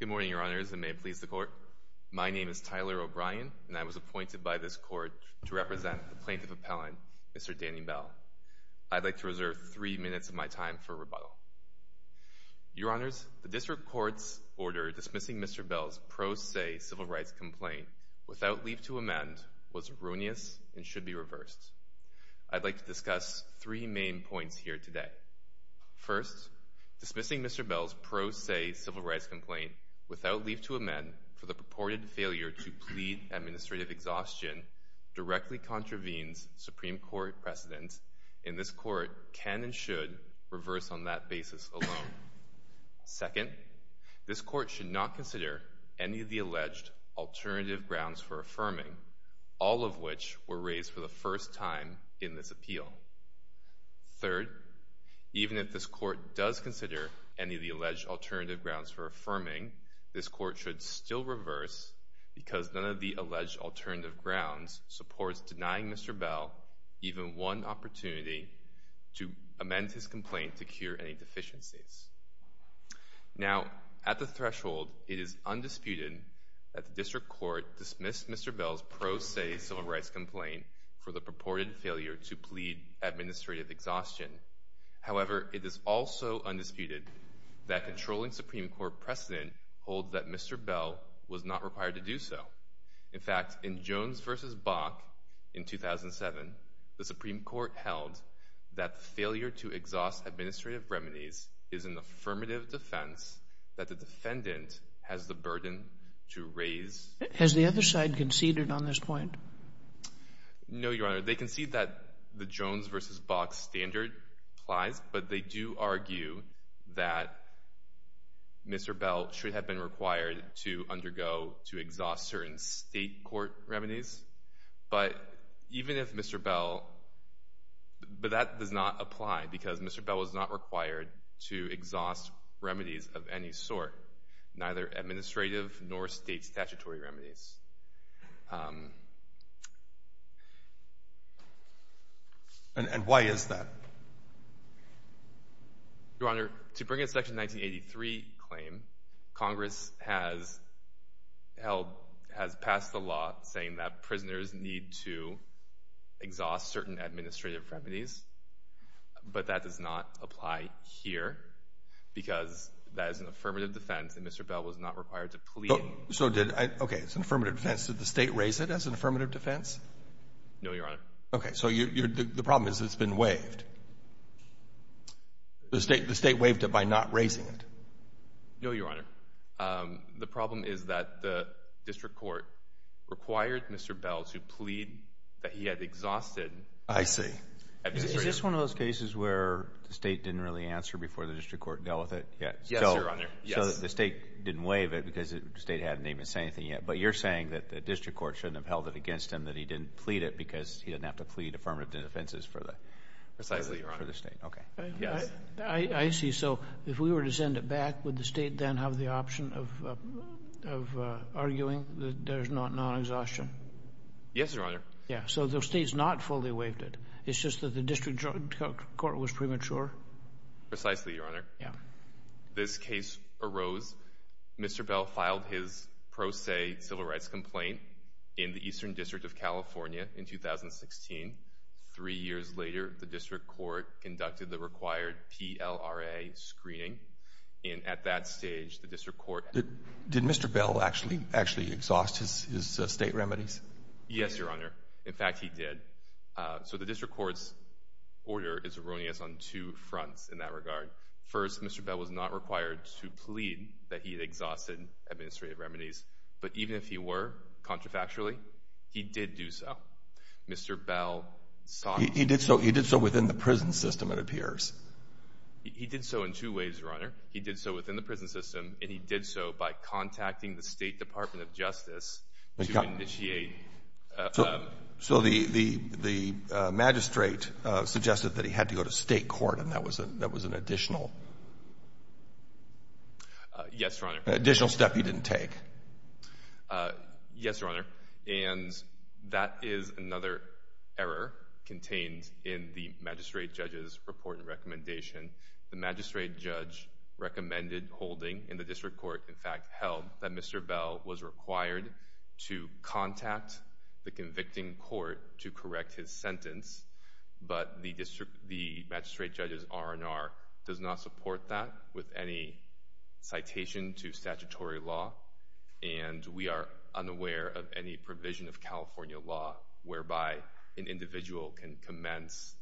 Good morning, Your Honors, and may it please the Court. My name is Tyler O'Brien, and I was appointed by this Court to represent the Plaintiff Appellant, Mr. Danny Bell. I'd like to reserve three minutes of my time for rebuttal. Your Honors, the District Court's order dismissing Mr. Bell's pro se civil rights complaint without leave to amend was erroneous and should be reversed. I'd like to discuss three main points here today. First, dismissing Mr. Bell's pro se civil rights complaint without leave to amend for the purported failure to plead administrative exhaustion directly contravenes Supreme Court precedents, and this Court can and should reverse on that basis alone. Second, this Court should not consider any of the alleged alternative grounds for affirming, all of which were raised for the first time in this case. This Court should still reverse because none of the alleged alternative grounds supports denying Mr. Bell even one opportunity to amend his complaint to cure any deficiencies. Now, at the threshold, it is undisputed that the District Court dismissed Mr. Bell's pro se civil rights complaint for the purported failure to plead administrative exhaustion. However, it is also undisputed that controlling Supreme Court precedent holds that Mr. Bell was not required to do so. In fact, in Jones v. Bach in 2007, the Supreme Court held that the failure to exhaust administrative remedies is an affirmative defense that the defendant has the burden to raise. Has the other side conceded on this point? No, Your Honor. They concede that the do argue that Mr. Bell should have been required to undergo to exhaust certain state court remedies, but even if Mr. Bell, but that does not apply because Mr. Bell was not required to exhaust remedies of any sort, neither administrative nor state statutory remedies. And why is that? Your Honor, to bring in Section 1983 claim, Congress has held, has passed the law saying that prisoners need to exhaust certain administrative remedies, but that does not apply here because that is an affirmative defense and Mr. Bell was not required to plead. So did I, okay, it's an affirmative defense. Did the state raise it as an affirmative defense? No, Your Honor. Okay, so you're, the problem is it's been waived. The state waived it by not raising it. No, Your Honor. The problem is that the district court required Mr. Bell to plead that he had exhausted. I see. Is this one of those cases where the state didn't really answer before the district court dealt with it? Yes, Your Honor. So the state didn't waive it because the state hadn't even said anything yet, but you're saying that the district court shouldn't have held it affirmative defenses for the, precisely, Your Honor, for the state. Okay. I see. So if we were to send it back, would the state then have the option of arguing that there's not non-exhaustion? Yes, Your Honor. Yeah. So the state's not fully waived it. It's just that the district court was premature. Precisely, Your Honor. Yeah. This case arose, Mr. Bell filed his pro se civil 2016. Three years later, the district court conducted the required PLRA screening, and at that stage, the district court— Did Mr. Bell actually, actually exhaust his state remedies? Yes, Your Honor. In fact, he did. So the district court's order is erroneous on two fronts in that regard. First, Mr. Bell was not required to plead that he had exhausted administrative remedies, but even if he were, contra factually, he did do so. Mr. Bell sought— He did so within the prison system, it appears. He did so in two ways, Your Honor. He did so within the prison system, and he did so by contacting the State Department of Justice to initiate— So the magistrate suggested that he had to go to state court, and that was an additional— Yes, Your Honor. Additional step he didn't take. Yes, Your Honor, and that is another error contained in the magistrate judge's report and recommendation. The magistrate judge recommended holding, and the district court, in fact, held that Mr. Bell was required to contact the convicting court to correct his sentence, but the district— the magistrate judge's R&R does not support that with any citation to statutory law, and we are unaware of any provision of California law whereby an individual can commence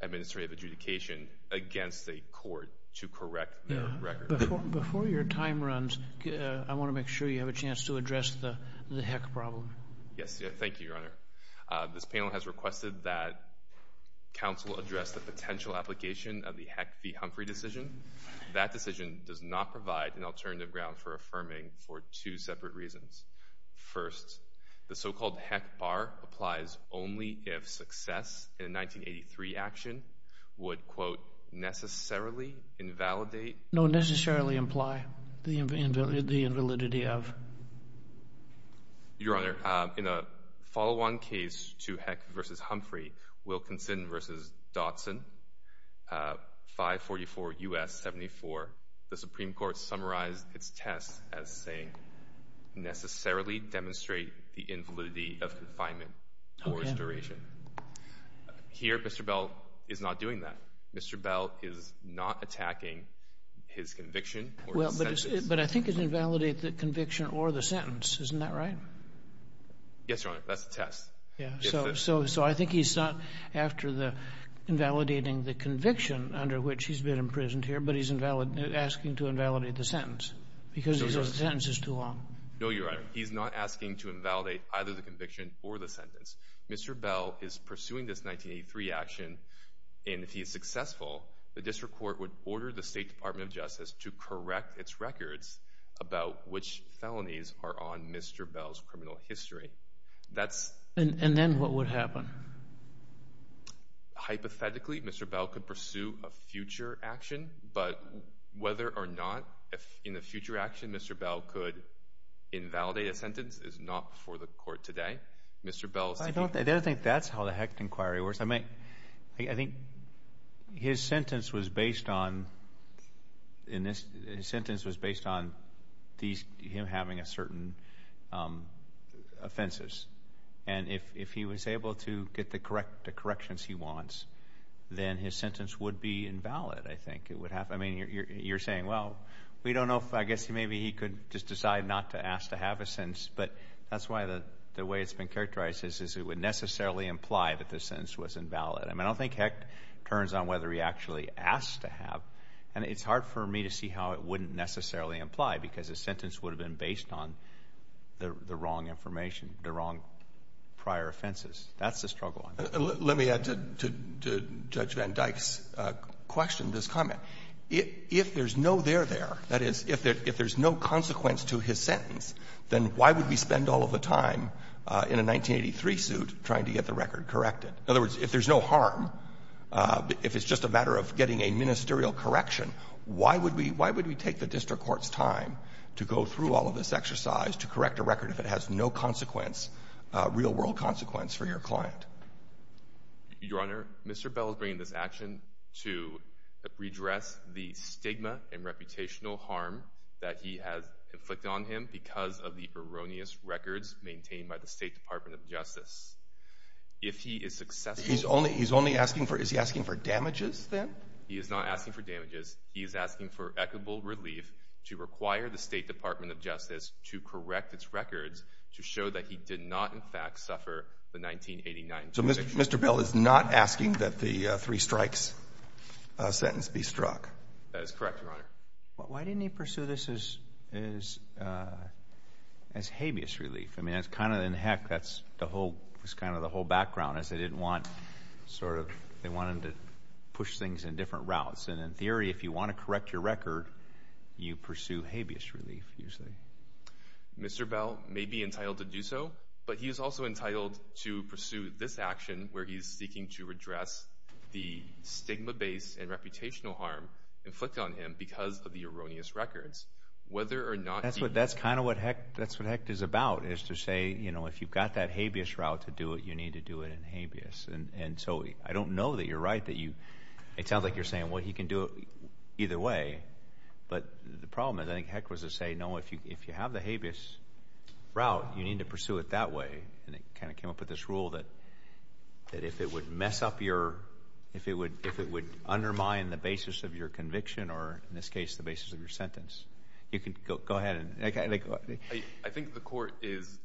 administrative adjudication against a court to correct their record. Before your time runs, I want to make sure you have a chance to address the Heck problem. Yes, thank you, Your Honor. This panel has requested that counsel address the potential application of the Heck v. Humphrey for two separate reasons. First, the so-called Heck bar applies only if success in a 1983 action would, quote, necessarily invalidate— No, necessarily imply the invalidity of. Your Honor, in a follow-on case to Heck v. Humphrey, Wilkinson v. Dotson, 544 U.S. 74, the Supreme Court has saying, necessarily demonstrate the invalidity of confinement for its duration. Here, Mr. Bell is not doing that. Mr. Bell is not attacking his conviction or his sentence. But I think it's invalidate the conviction or the sentence. Isn't that right? Yes, Your Honor. That's the test. Yeah. So I think he's not, after the invalidating the conviction under which he's been imprisoned here, but he's asking to invalidate the sentence because the sentence is too long. No, Your Honor. He's not asking to invalidate either the conviction or the sentence. Mr. Bell is pursuing this 1983 action, and if he is successful, the district court would order the State Department of Justice to correct its records about which felonies are on Mr. Bell's criminal history. That's— And then what would happen? Hypothetically, Mr. Bell could pursue a future action, but whether or not, if in the future action, Mr. Bell could invalidate a sentence is not before the court today. Mr. Bell— I don't think that's how the Hecht inquiry works. I mean, I think his sentence was based on, these—him having a certain offenses. And if he was able to get the corrections he wants, then his sentence would be invalid, I think. It would have—I mean, you're saying, well, we don't know if—I guess maybe he could just decide not to ask to have a sentence, but that's why the way it's been characterized is it would necessarily imply that the sentence was invalid. I mean, I don't think Hecht turns on whether he actually asked to have, and it's hard for me to see how it wouldn't necessarily imply, because his sentence would have been based on the wrong information, the wrong prior offenses. That's the struggle. Let me add to Judge Van Dyck's question, this comment. If there's no there there, that is, if there's no consequence to his sentence, then why would we spend all of the time in a 1983 suit trying to get the record corrected? In other words, if there's no harm, if it's just a matter of getting a ministerial correction, why would we take the district court's time to go through all of this exercise to correct a record if it has no consequence, real-world consequence for your client? Your Honor, Mr. Bell is bringing this action to redress the stigma and reputational harm that he has inflicted on him because of the erroneous records maintained by the State Department of Justice. If he is successful— He's only asking for—is he asking for damages, then? He is not asking for damages. He is asking for equitable relief to require the State Department of Justice to correct its records to show that he did not, in fact, suffer the 1989 conviction. So Mr. Bell is not asking that the three-strikes sentence be struck? That is correct, Your Honor. Why didn't he pursue this as habeas relief? I mean, that's kind of, heck, that's kind of the whole background, is they didn't want, sort of, they wanted to push things in different routes. And in theory, if you want to correct your record, you pursue habeas relief, usually. Mr. Bell may be entitled to do so, but he is also entitled to pursue this action where he is seeking to redress the stigma-based and reputational harm inflicted on him because of the erroneous records, whether or not he— That's kind of what, heck, that's what HECT is about, is to say, you know, if you've got that habeas route to do it, you need to do it in habeas. And so I don't know that you're right, that you, it sounds like you're saying, well, he can do it either way. But the problem, I think, HECT was to say, no, if you have the habeas route, you need to pursue it that way. And it kind of came up with this rule that if it would mess up your, if it would undermine the basis of your conviction or, in this case, the basis of your sentence, you could go ahead and— I think the Court is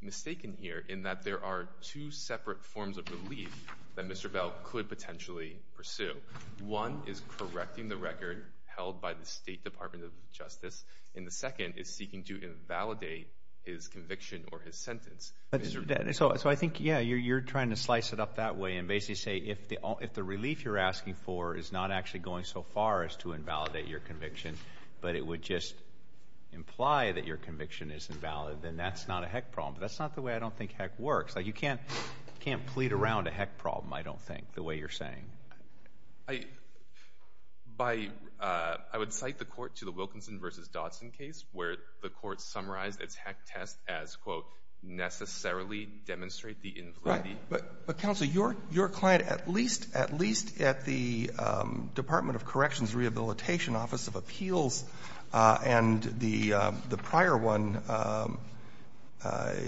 mistaken here in that there are two separate forms of relief that Mr. Bell could potentially pursue. One is correcting the record held by the State Department of Justice, and the second is seeking to invalidate his conviction or his sentence. So I think, yeah, you're trying to slice it up that way and basically say, if the relief you're asking for is not actually going so far as to invalidate your conviction, but it would just imply that your conviction is invalid, then that's not a HECT problem. But that's not the way I don't think HECT works. Like, you can't plead around a HECT problem, I don't think, the way you're saying. I, by, I would cite the Court to the Wilkinson v. Dodson case, where the Court summarized its HECT test as, quote, necessarily demonstrate the— Roberts. But, Counsel, your client, at least, at least at the Department of Corrections Rehabilitation Office of Appeals and the prior one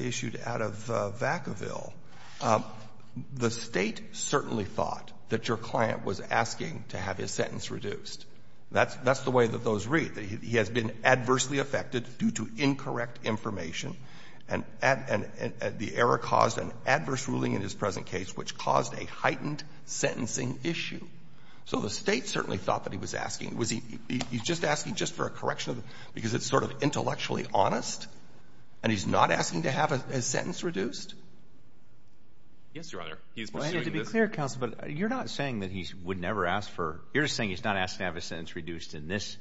issued out of Vacaville, the State certainly thought that your client was asking to have his sentence reduced. That's the way that those read, that he has been adversely affected due to incorrect information, and the error caused an adverse ruling in his present case, which caused a heightened sentencing issue. So the State certainly thought that he was asking. Was he just asking just for a correction because it's sort of intellectually honest, and he's not asking to have his sentence reduced? Yes, Your Honor. He's pursuing this— Well, I need to be clear, Counsel, but you're not saying that he would never ask for —you're just saying he's not asking to have his sentence reduced in this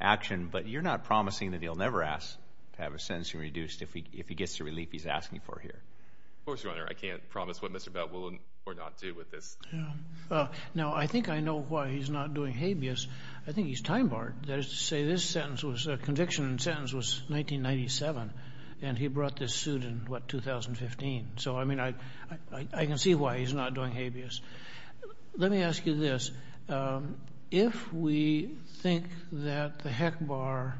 action, but you're not promising that he'll never ask to have his sentencing reduced if he gets the relief he's asking for here. Of course, Your Honor. I can't promise what Mr. Bell will or not do with this. Yeah. Now, I think I know why he's not doing habeas. I think he's time-barred. That is to say, this sentence was — the conviction sentence was 1997, and he brought this suit in, what, 2015. So, I mean, I can see why he's not doing habeas. Let me ask you this. If we think that the HECBAR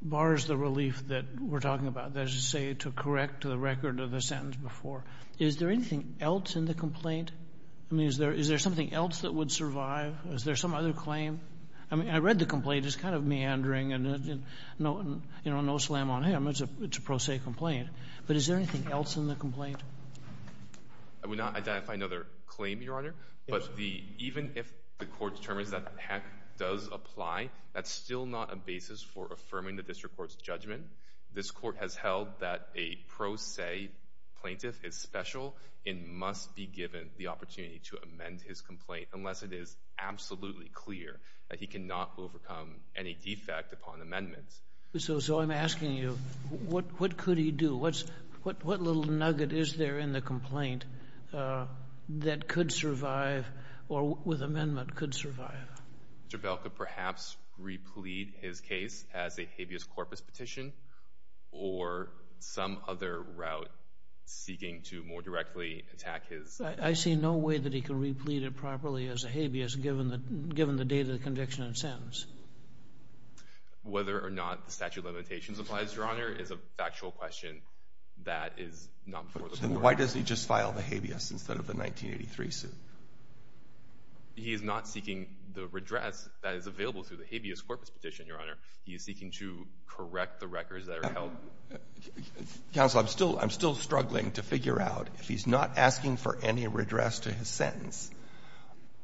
bars the relief that we're talking about, that is to say, to correct the record of the sentence before, is there anything else in the complaint? I mean, is there something else that would survive? Is there some other claim? I mean, I read the complaint. It's kind of meandering and, you know, no slam on him. It's a pro se complaint. But is there anything else in the complaint? I would not identify another claim, Your Honor. But the — even if the court determines that the HEC does apply, that's still not a basis for affirming the district court's judgment. This court has held that a pro se plaintiff is special and must be given the opportunity to amend his complaint unless it is absolutely clear that he cannot overcome any defect upon amendment. So I'm asking you, what could he do? What's — what little nugget is there in the complaint that could survive or with amendment could survive? Mr. Bell could perhaps replete his case as a habeas corpus petition or some other route seeking to more directly attack his — I see no way that he can replete it properly as a habeas given the — given the date of the conviction and sentence. Whether or not the statute of limitations applies, Your Honor, is a factual question that is not before the court. But why doesn't he just file the habeas instead of the 1983 suit? He is not seeking the redress that is available through the habeas corpus petition, Your Honor. He is seeking to correct the records that are held. Counsel, I'm still — I'm still struggling to figure out if he's not asking for any redress to his sentence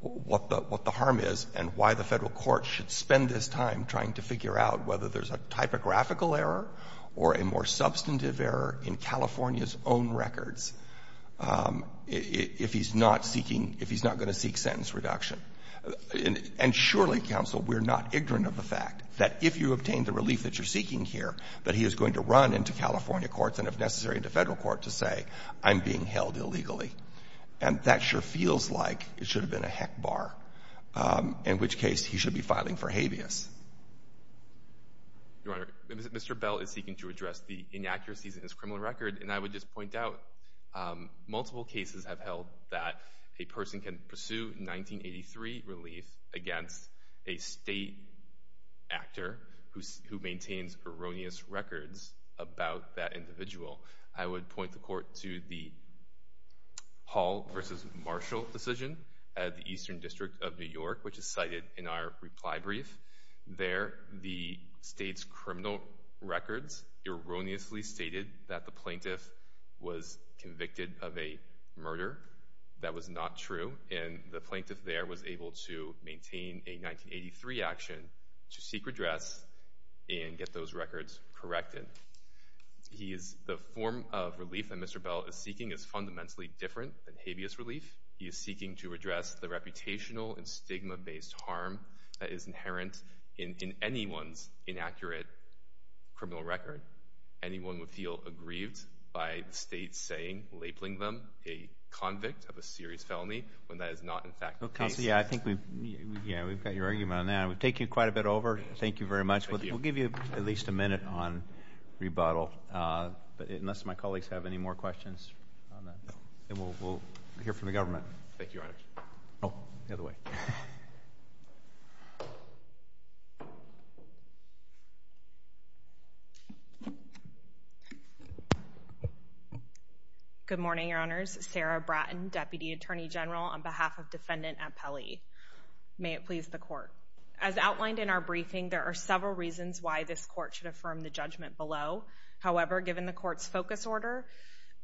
what the — what the harm is and why the Federal Court should spend this time trying to figure out whether there's a typographical error or a more substantive error in California's own records if he's not seeking — if he's not going to seek sentence reduction. And surely, counsel, we're not ignorant of the fact that if you obtain the relief that you're seeking here, that he is going to run into California courts and, if necessary, into Federal court to say, I'm being held illegally. And that sure feels like it should have been a heck bar, in which case he should be filing for habeas. Your Honor, Mr. Bell is seeking to address the inaccuracies in his criminal record. And I would just point out, multiple cases have held that a person can pursue 1983 relief against a state actor who maintains erroneous records about that individual. I would point the Court to the Hall v. Marshall decision at the Eastern District of New York, which is cited in our reply brief. There, the state's criminal records erroneously stated that the plaintiff was convicted of a murder. That was not true. And the plaintiff there was able to maintain a 1983 action to seek redress and get those records corrected. He is — the form of relief that Mr. Bell is seeking is fundamentally different than habeas relief. He is seeking to address the reputational and stigma-based harm that is inherent in anyone's inaccurate criminal record. Anyone would feel aggrieved by the state's saying, labeling them a convict of a serious felony, when that is not, in fact, the case. Counsel, yeah, I think we've — yeah, we've got your argument on that. We've taken quite a bit over. Thank you very much. We'll give you at least a minute on rebuttal, unless my colleagues have any more questions on that. And we'll hear from the government. Thank you, Your Honor. Oh, the other way. Good morning, Your Honors. Sarah Bratton, Deputy Attorney General, on behalf of Defendant Appelli. May it please the Court. As outlined in our briefing, there are several reasons why this Court should affirm the judgment below. However, given the Court's focus order,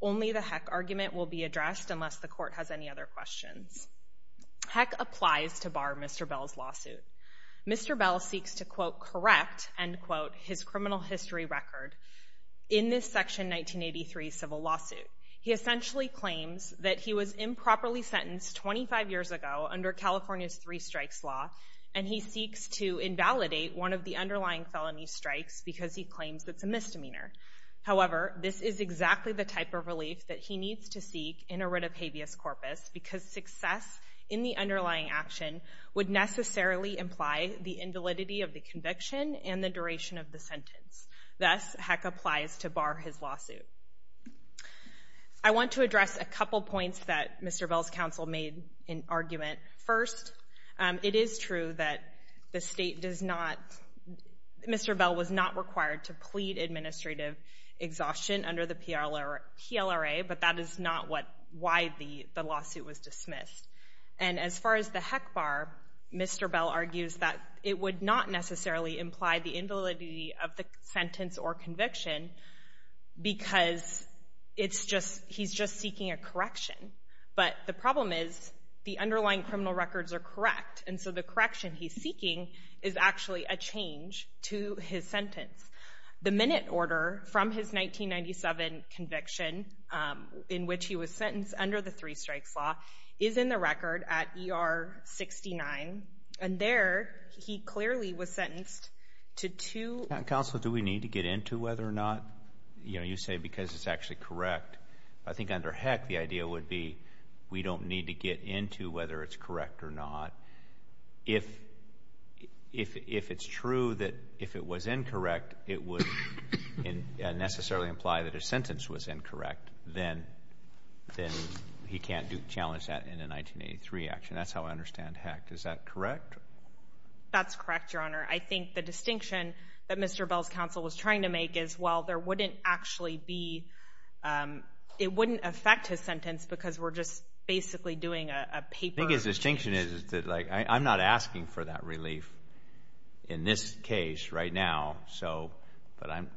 only the Heck argument will be addressed unless the Court has any other questions. Heck applies to bar Mr. Bell's lawsuit. Mr. Bell seeks to, quote, correct, end quote, his criminal history record in this Section 1983 civil lawsuit. He essentially claims that he was improperly sentenced 25 years ago under California's three-strikes law, and he seeks to invalidate one of the underlying felony strikes because he claims it's a misdemeanor. However, this is exactly the type of relief that he needs to seek in a writ of habeas corpus because success in the underlying action would necessarily imply the invalidity of the conviction and the duration of the sentence. Thus, Heck applies to bar his lawsuit. I want to address a couple points that Mr. Bell's counsel made in argument. First, it is true that the State does not — Mr. Bell was not required to plead administrative exhaustion under the PLRA, but that is not what — why the lawsuit was dismissed. And as far as the Heck bar, Mr. Bell argues that it would not necessarily imply the invalidity of the sentence or conviction because it's just — he's just seeking a correction. But the problem is the underlying criminal records are correct, and so the correction he's seeking is actually a change to his sentence. The minute order from his 1997 conviction in which he was sentenced under the three-strikes law is in the record at ER-69, and there he clearly was sentenced to two — Counsel, do we need to get into whether or not, you know, you say because it's actually correct? I think under Heck, the idea would be we don't need to get into whether it's correct or not. If it's true that if it was incorrect, it would necessarily imply that his sentence was incorrect, then he can't challenge that in a 1983 action. That's how I understand Heck. Is that correct? That's correct, Your Honor. I think the distinction that Mr. Bell's counsel was trying to make is, well, there wouldn't actually be — it wouldn't affect his sentence because we're just basically doing a paper — I think his distinction is that, like, I'm not asking for that relief in this case right now, so — but I'm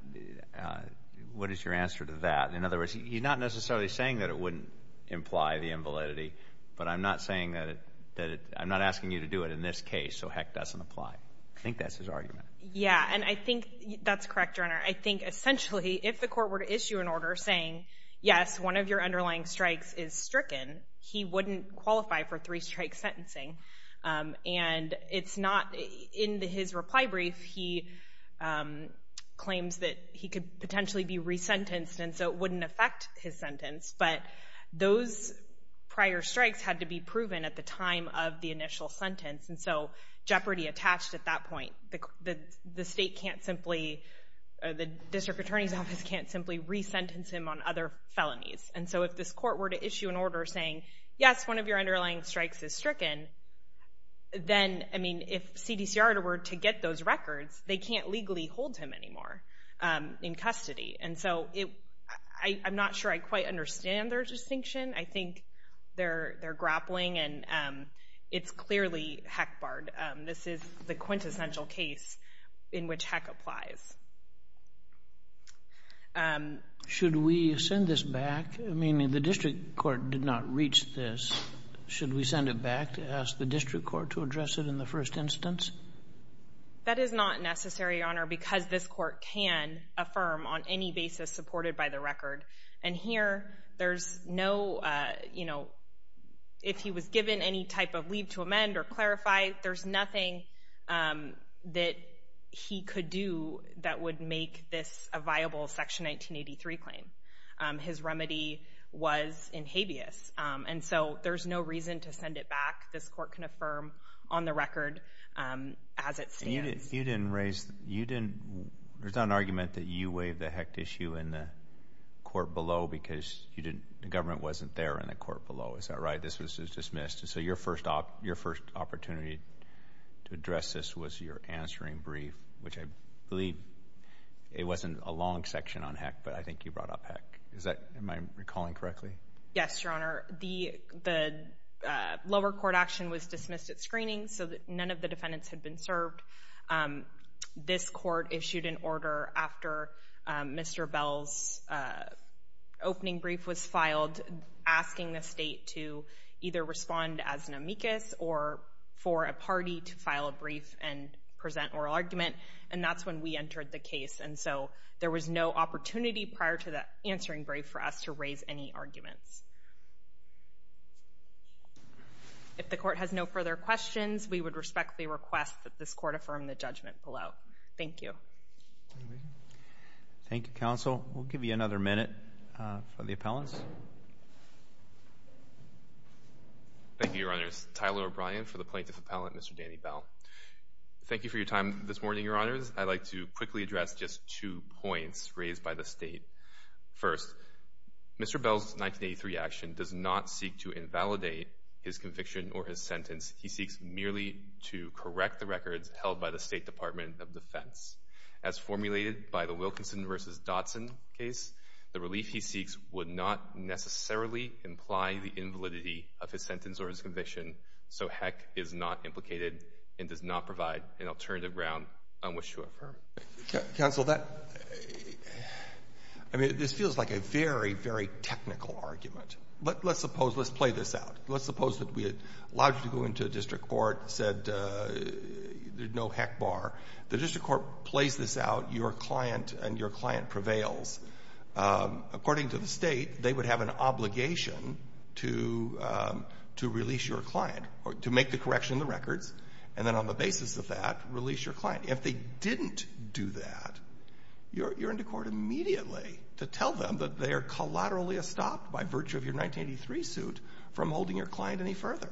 — what is your answer to that? In other words, he's not necessarily saying that it wouldn't imply the invalidity, but I'm not saying that it — I'm not asking you to do it in this case, so Heck doesn't apply. I think that's his argument. Yeah, and I think that's correct, Your Honor. I think, essentially, if the court were to issue an order saying, yes, one of your underlying strikes is stricken, he wouldn't qualify for three-strike sentencing. And it's not — in his reply brief, he claims that he could potentially be resentenced, and so it wouldn't affect his sentence. But those prior strikes had to be proven at the time of the initial sentence, and so jeopardy attached at that point. The state can't simply — the district attorney's office can't simply resentence him on other felonies. And so if this court were to issue an order saying, yes, one of your underlying strikes is stricken, then, I mean, if CDCR were to get those records, they can't legally hold him anymore in custody. And so it — I'm not sure I quite understand their distinction. I think they're grappling, and it's clearly Heck barred. This is the quintessential case in which Heck applies. Should we send this back? I mean, the district court did not reach this. Should we send it back to ask the district court to address it in the first instance? That is not necessary, Your Honor, because this court can affirm on any basis supported by the record. And here, there's no — you know, if he was given any type of leave to amend or clarify, there's nothing that he could do that would make this a viable Section 1983 claim. His remedy was in habeas. And so there's no reason to send it back. This court can affirm on the record as it stands. And you didn't raise — you didn't — there's not an argument that you waived the Heck issue in the court below because you didn't — the government wasn't there in the court below. Is that right? This was dismissed. So your first opportunity to address this was your answering brief, which I believe it wasn't a long section on Heck, but I think you brought up Heck. Is that — am I recalling correctly? Yes, Your Honor. The lower court action was dismissed at screening so that none of the defendants had been served. This court issued an order after Mr. Bell's opening brief was filed asking the state to either respond as an amicus or for a party to file a brief and present oral argument. And that's when we entered the case. And so there was no opportunity prior to the answering brief for us to raise any arguments. If the court has no further questions, we would respectfully request that this court affirm the judgment below. Thank you. Thank you, counsel. We'll give you another minute for the appellants. Thank you, Your Honors. Tyler O'Brien for the plaintiff appellant, Mr. Danny Bell. Thank you for your time this morning, Your Honors. I'd like to quickly address just two points raised by the state. First, Mr. Bell's 1983 action does not seek to invalidate his conviction or his sentence. He seeks merely to correct the records held by the State Department of Defense. As formulated by the Wilkinson v. Dotson case, the relief he seeks would not necessarily imply the invalidity of his sentence or his conviction, so heck is not implicated and does not provide an alternative ground on which to affirm it. Counsel, that, I mean, this feels like a very, very technical argument. But let's suppose, let's play this out. Let's suppose that we had allowed you to go into a district court, said there's no heck bar. The district court plays this out, your client and your client prevails. According to the state, they would have an obligation to release your client, to make the correction in the records, and then on the basis of that, release your client. If they didn't do that, you're into court immediately to tell them that they are collaterally stopped by virtue of your 1983 suit from holding your client any further.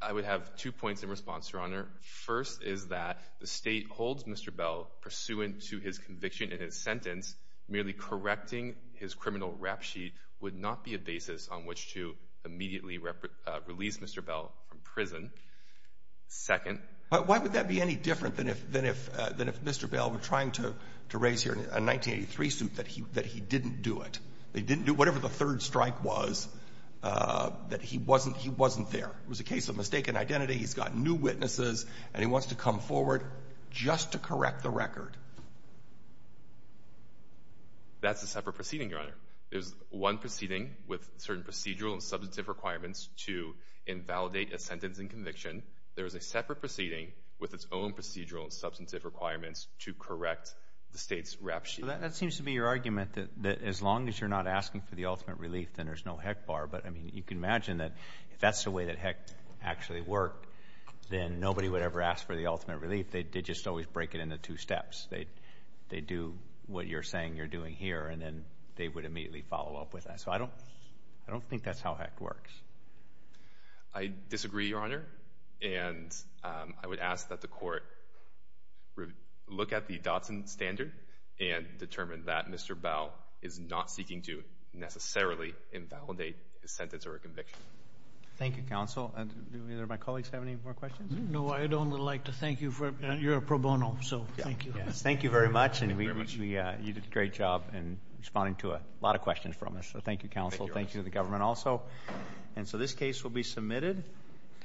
I would have two points in response, Your Honor. First is that the state holds Mr. Bell, pursuant to his conviction and his sentence, merely correcting his criminal rap sheet would not be a basis on which to immediately release Mr. Bell from prison. Second. Why would that be any different than if Mr. Bell were trying to raise here a 1983 suit, that he didn't do it? They didn't do whatever the third strike was, that he wasn't there. It was a case of mistaken identity. He's got new witnesses, and he wants to come forward just to correct the record. That's a separate proceeding, Your Honor. There's one proceeding with certain procedural and substantive requirements to invalidate a sentence and conviction. There is a separate proceeding with its own procedural and substantive requirements to correct the state's rap sheet. That seems to be your argument, that as long as you're not asking for the ultimate relief, then there's no heck bar. But I mean, you can imagine that if that's the way that heck actually worked, then nobody would ever ask for the ultimate relief. They just always break it into two steps. They do what you're saying you're doing here, and then they would immediately follow up with that. So I don't think that's how heck works. I disagree, Your Honor. And I would ask that the court look at the Dotson standard and determine that Mr. Bell is not seeking to necessarily invalidate his sentence or conviction. Thank you, counsel. And do either of my colleagues have any more questions? No, I'd only like to thank you. You're a pro bono, so thank you. Thank you very much, and you did a great job in responding to a lot of questions from us. So thank you, counsel. Thank you to the government also.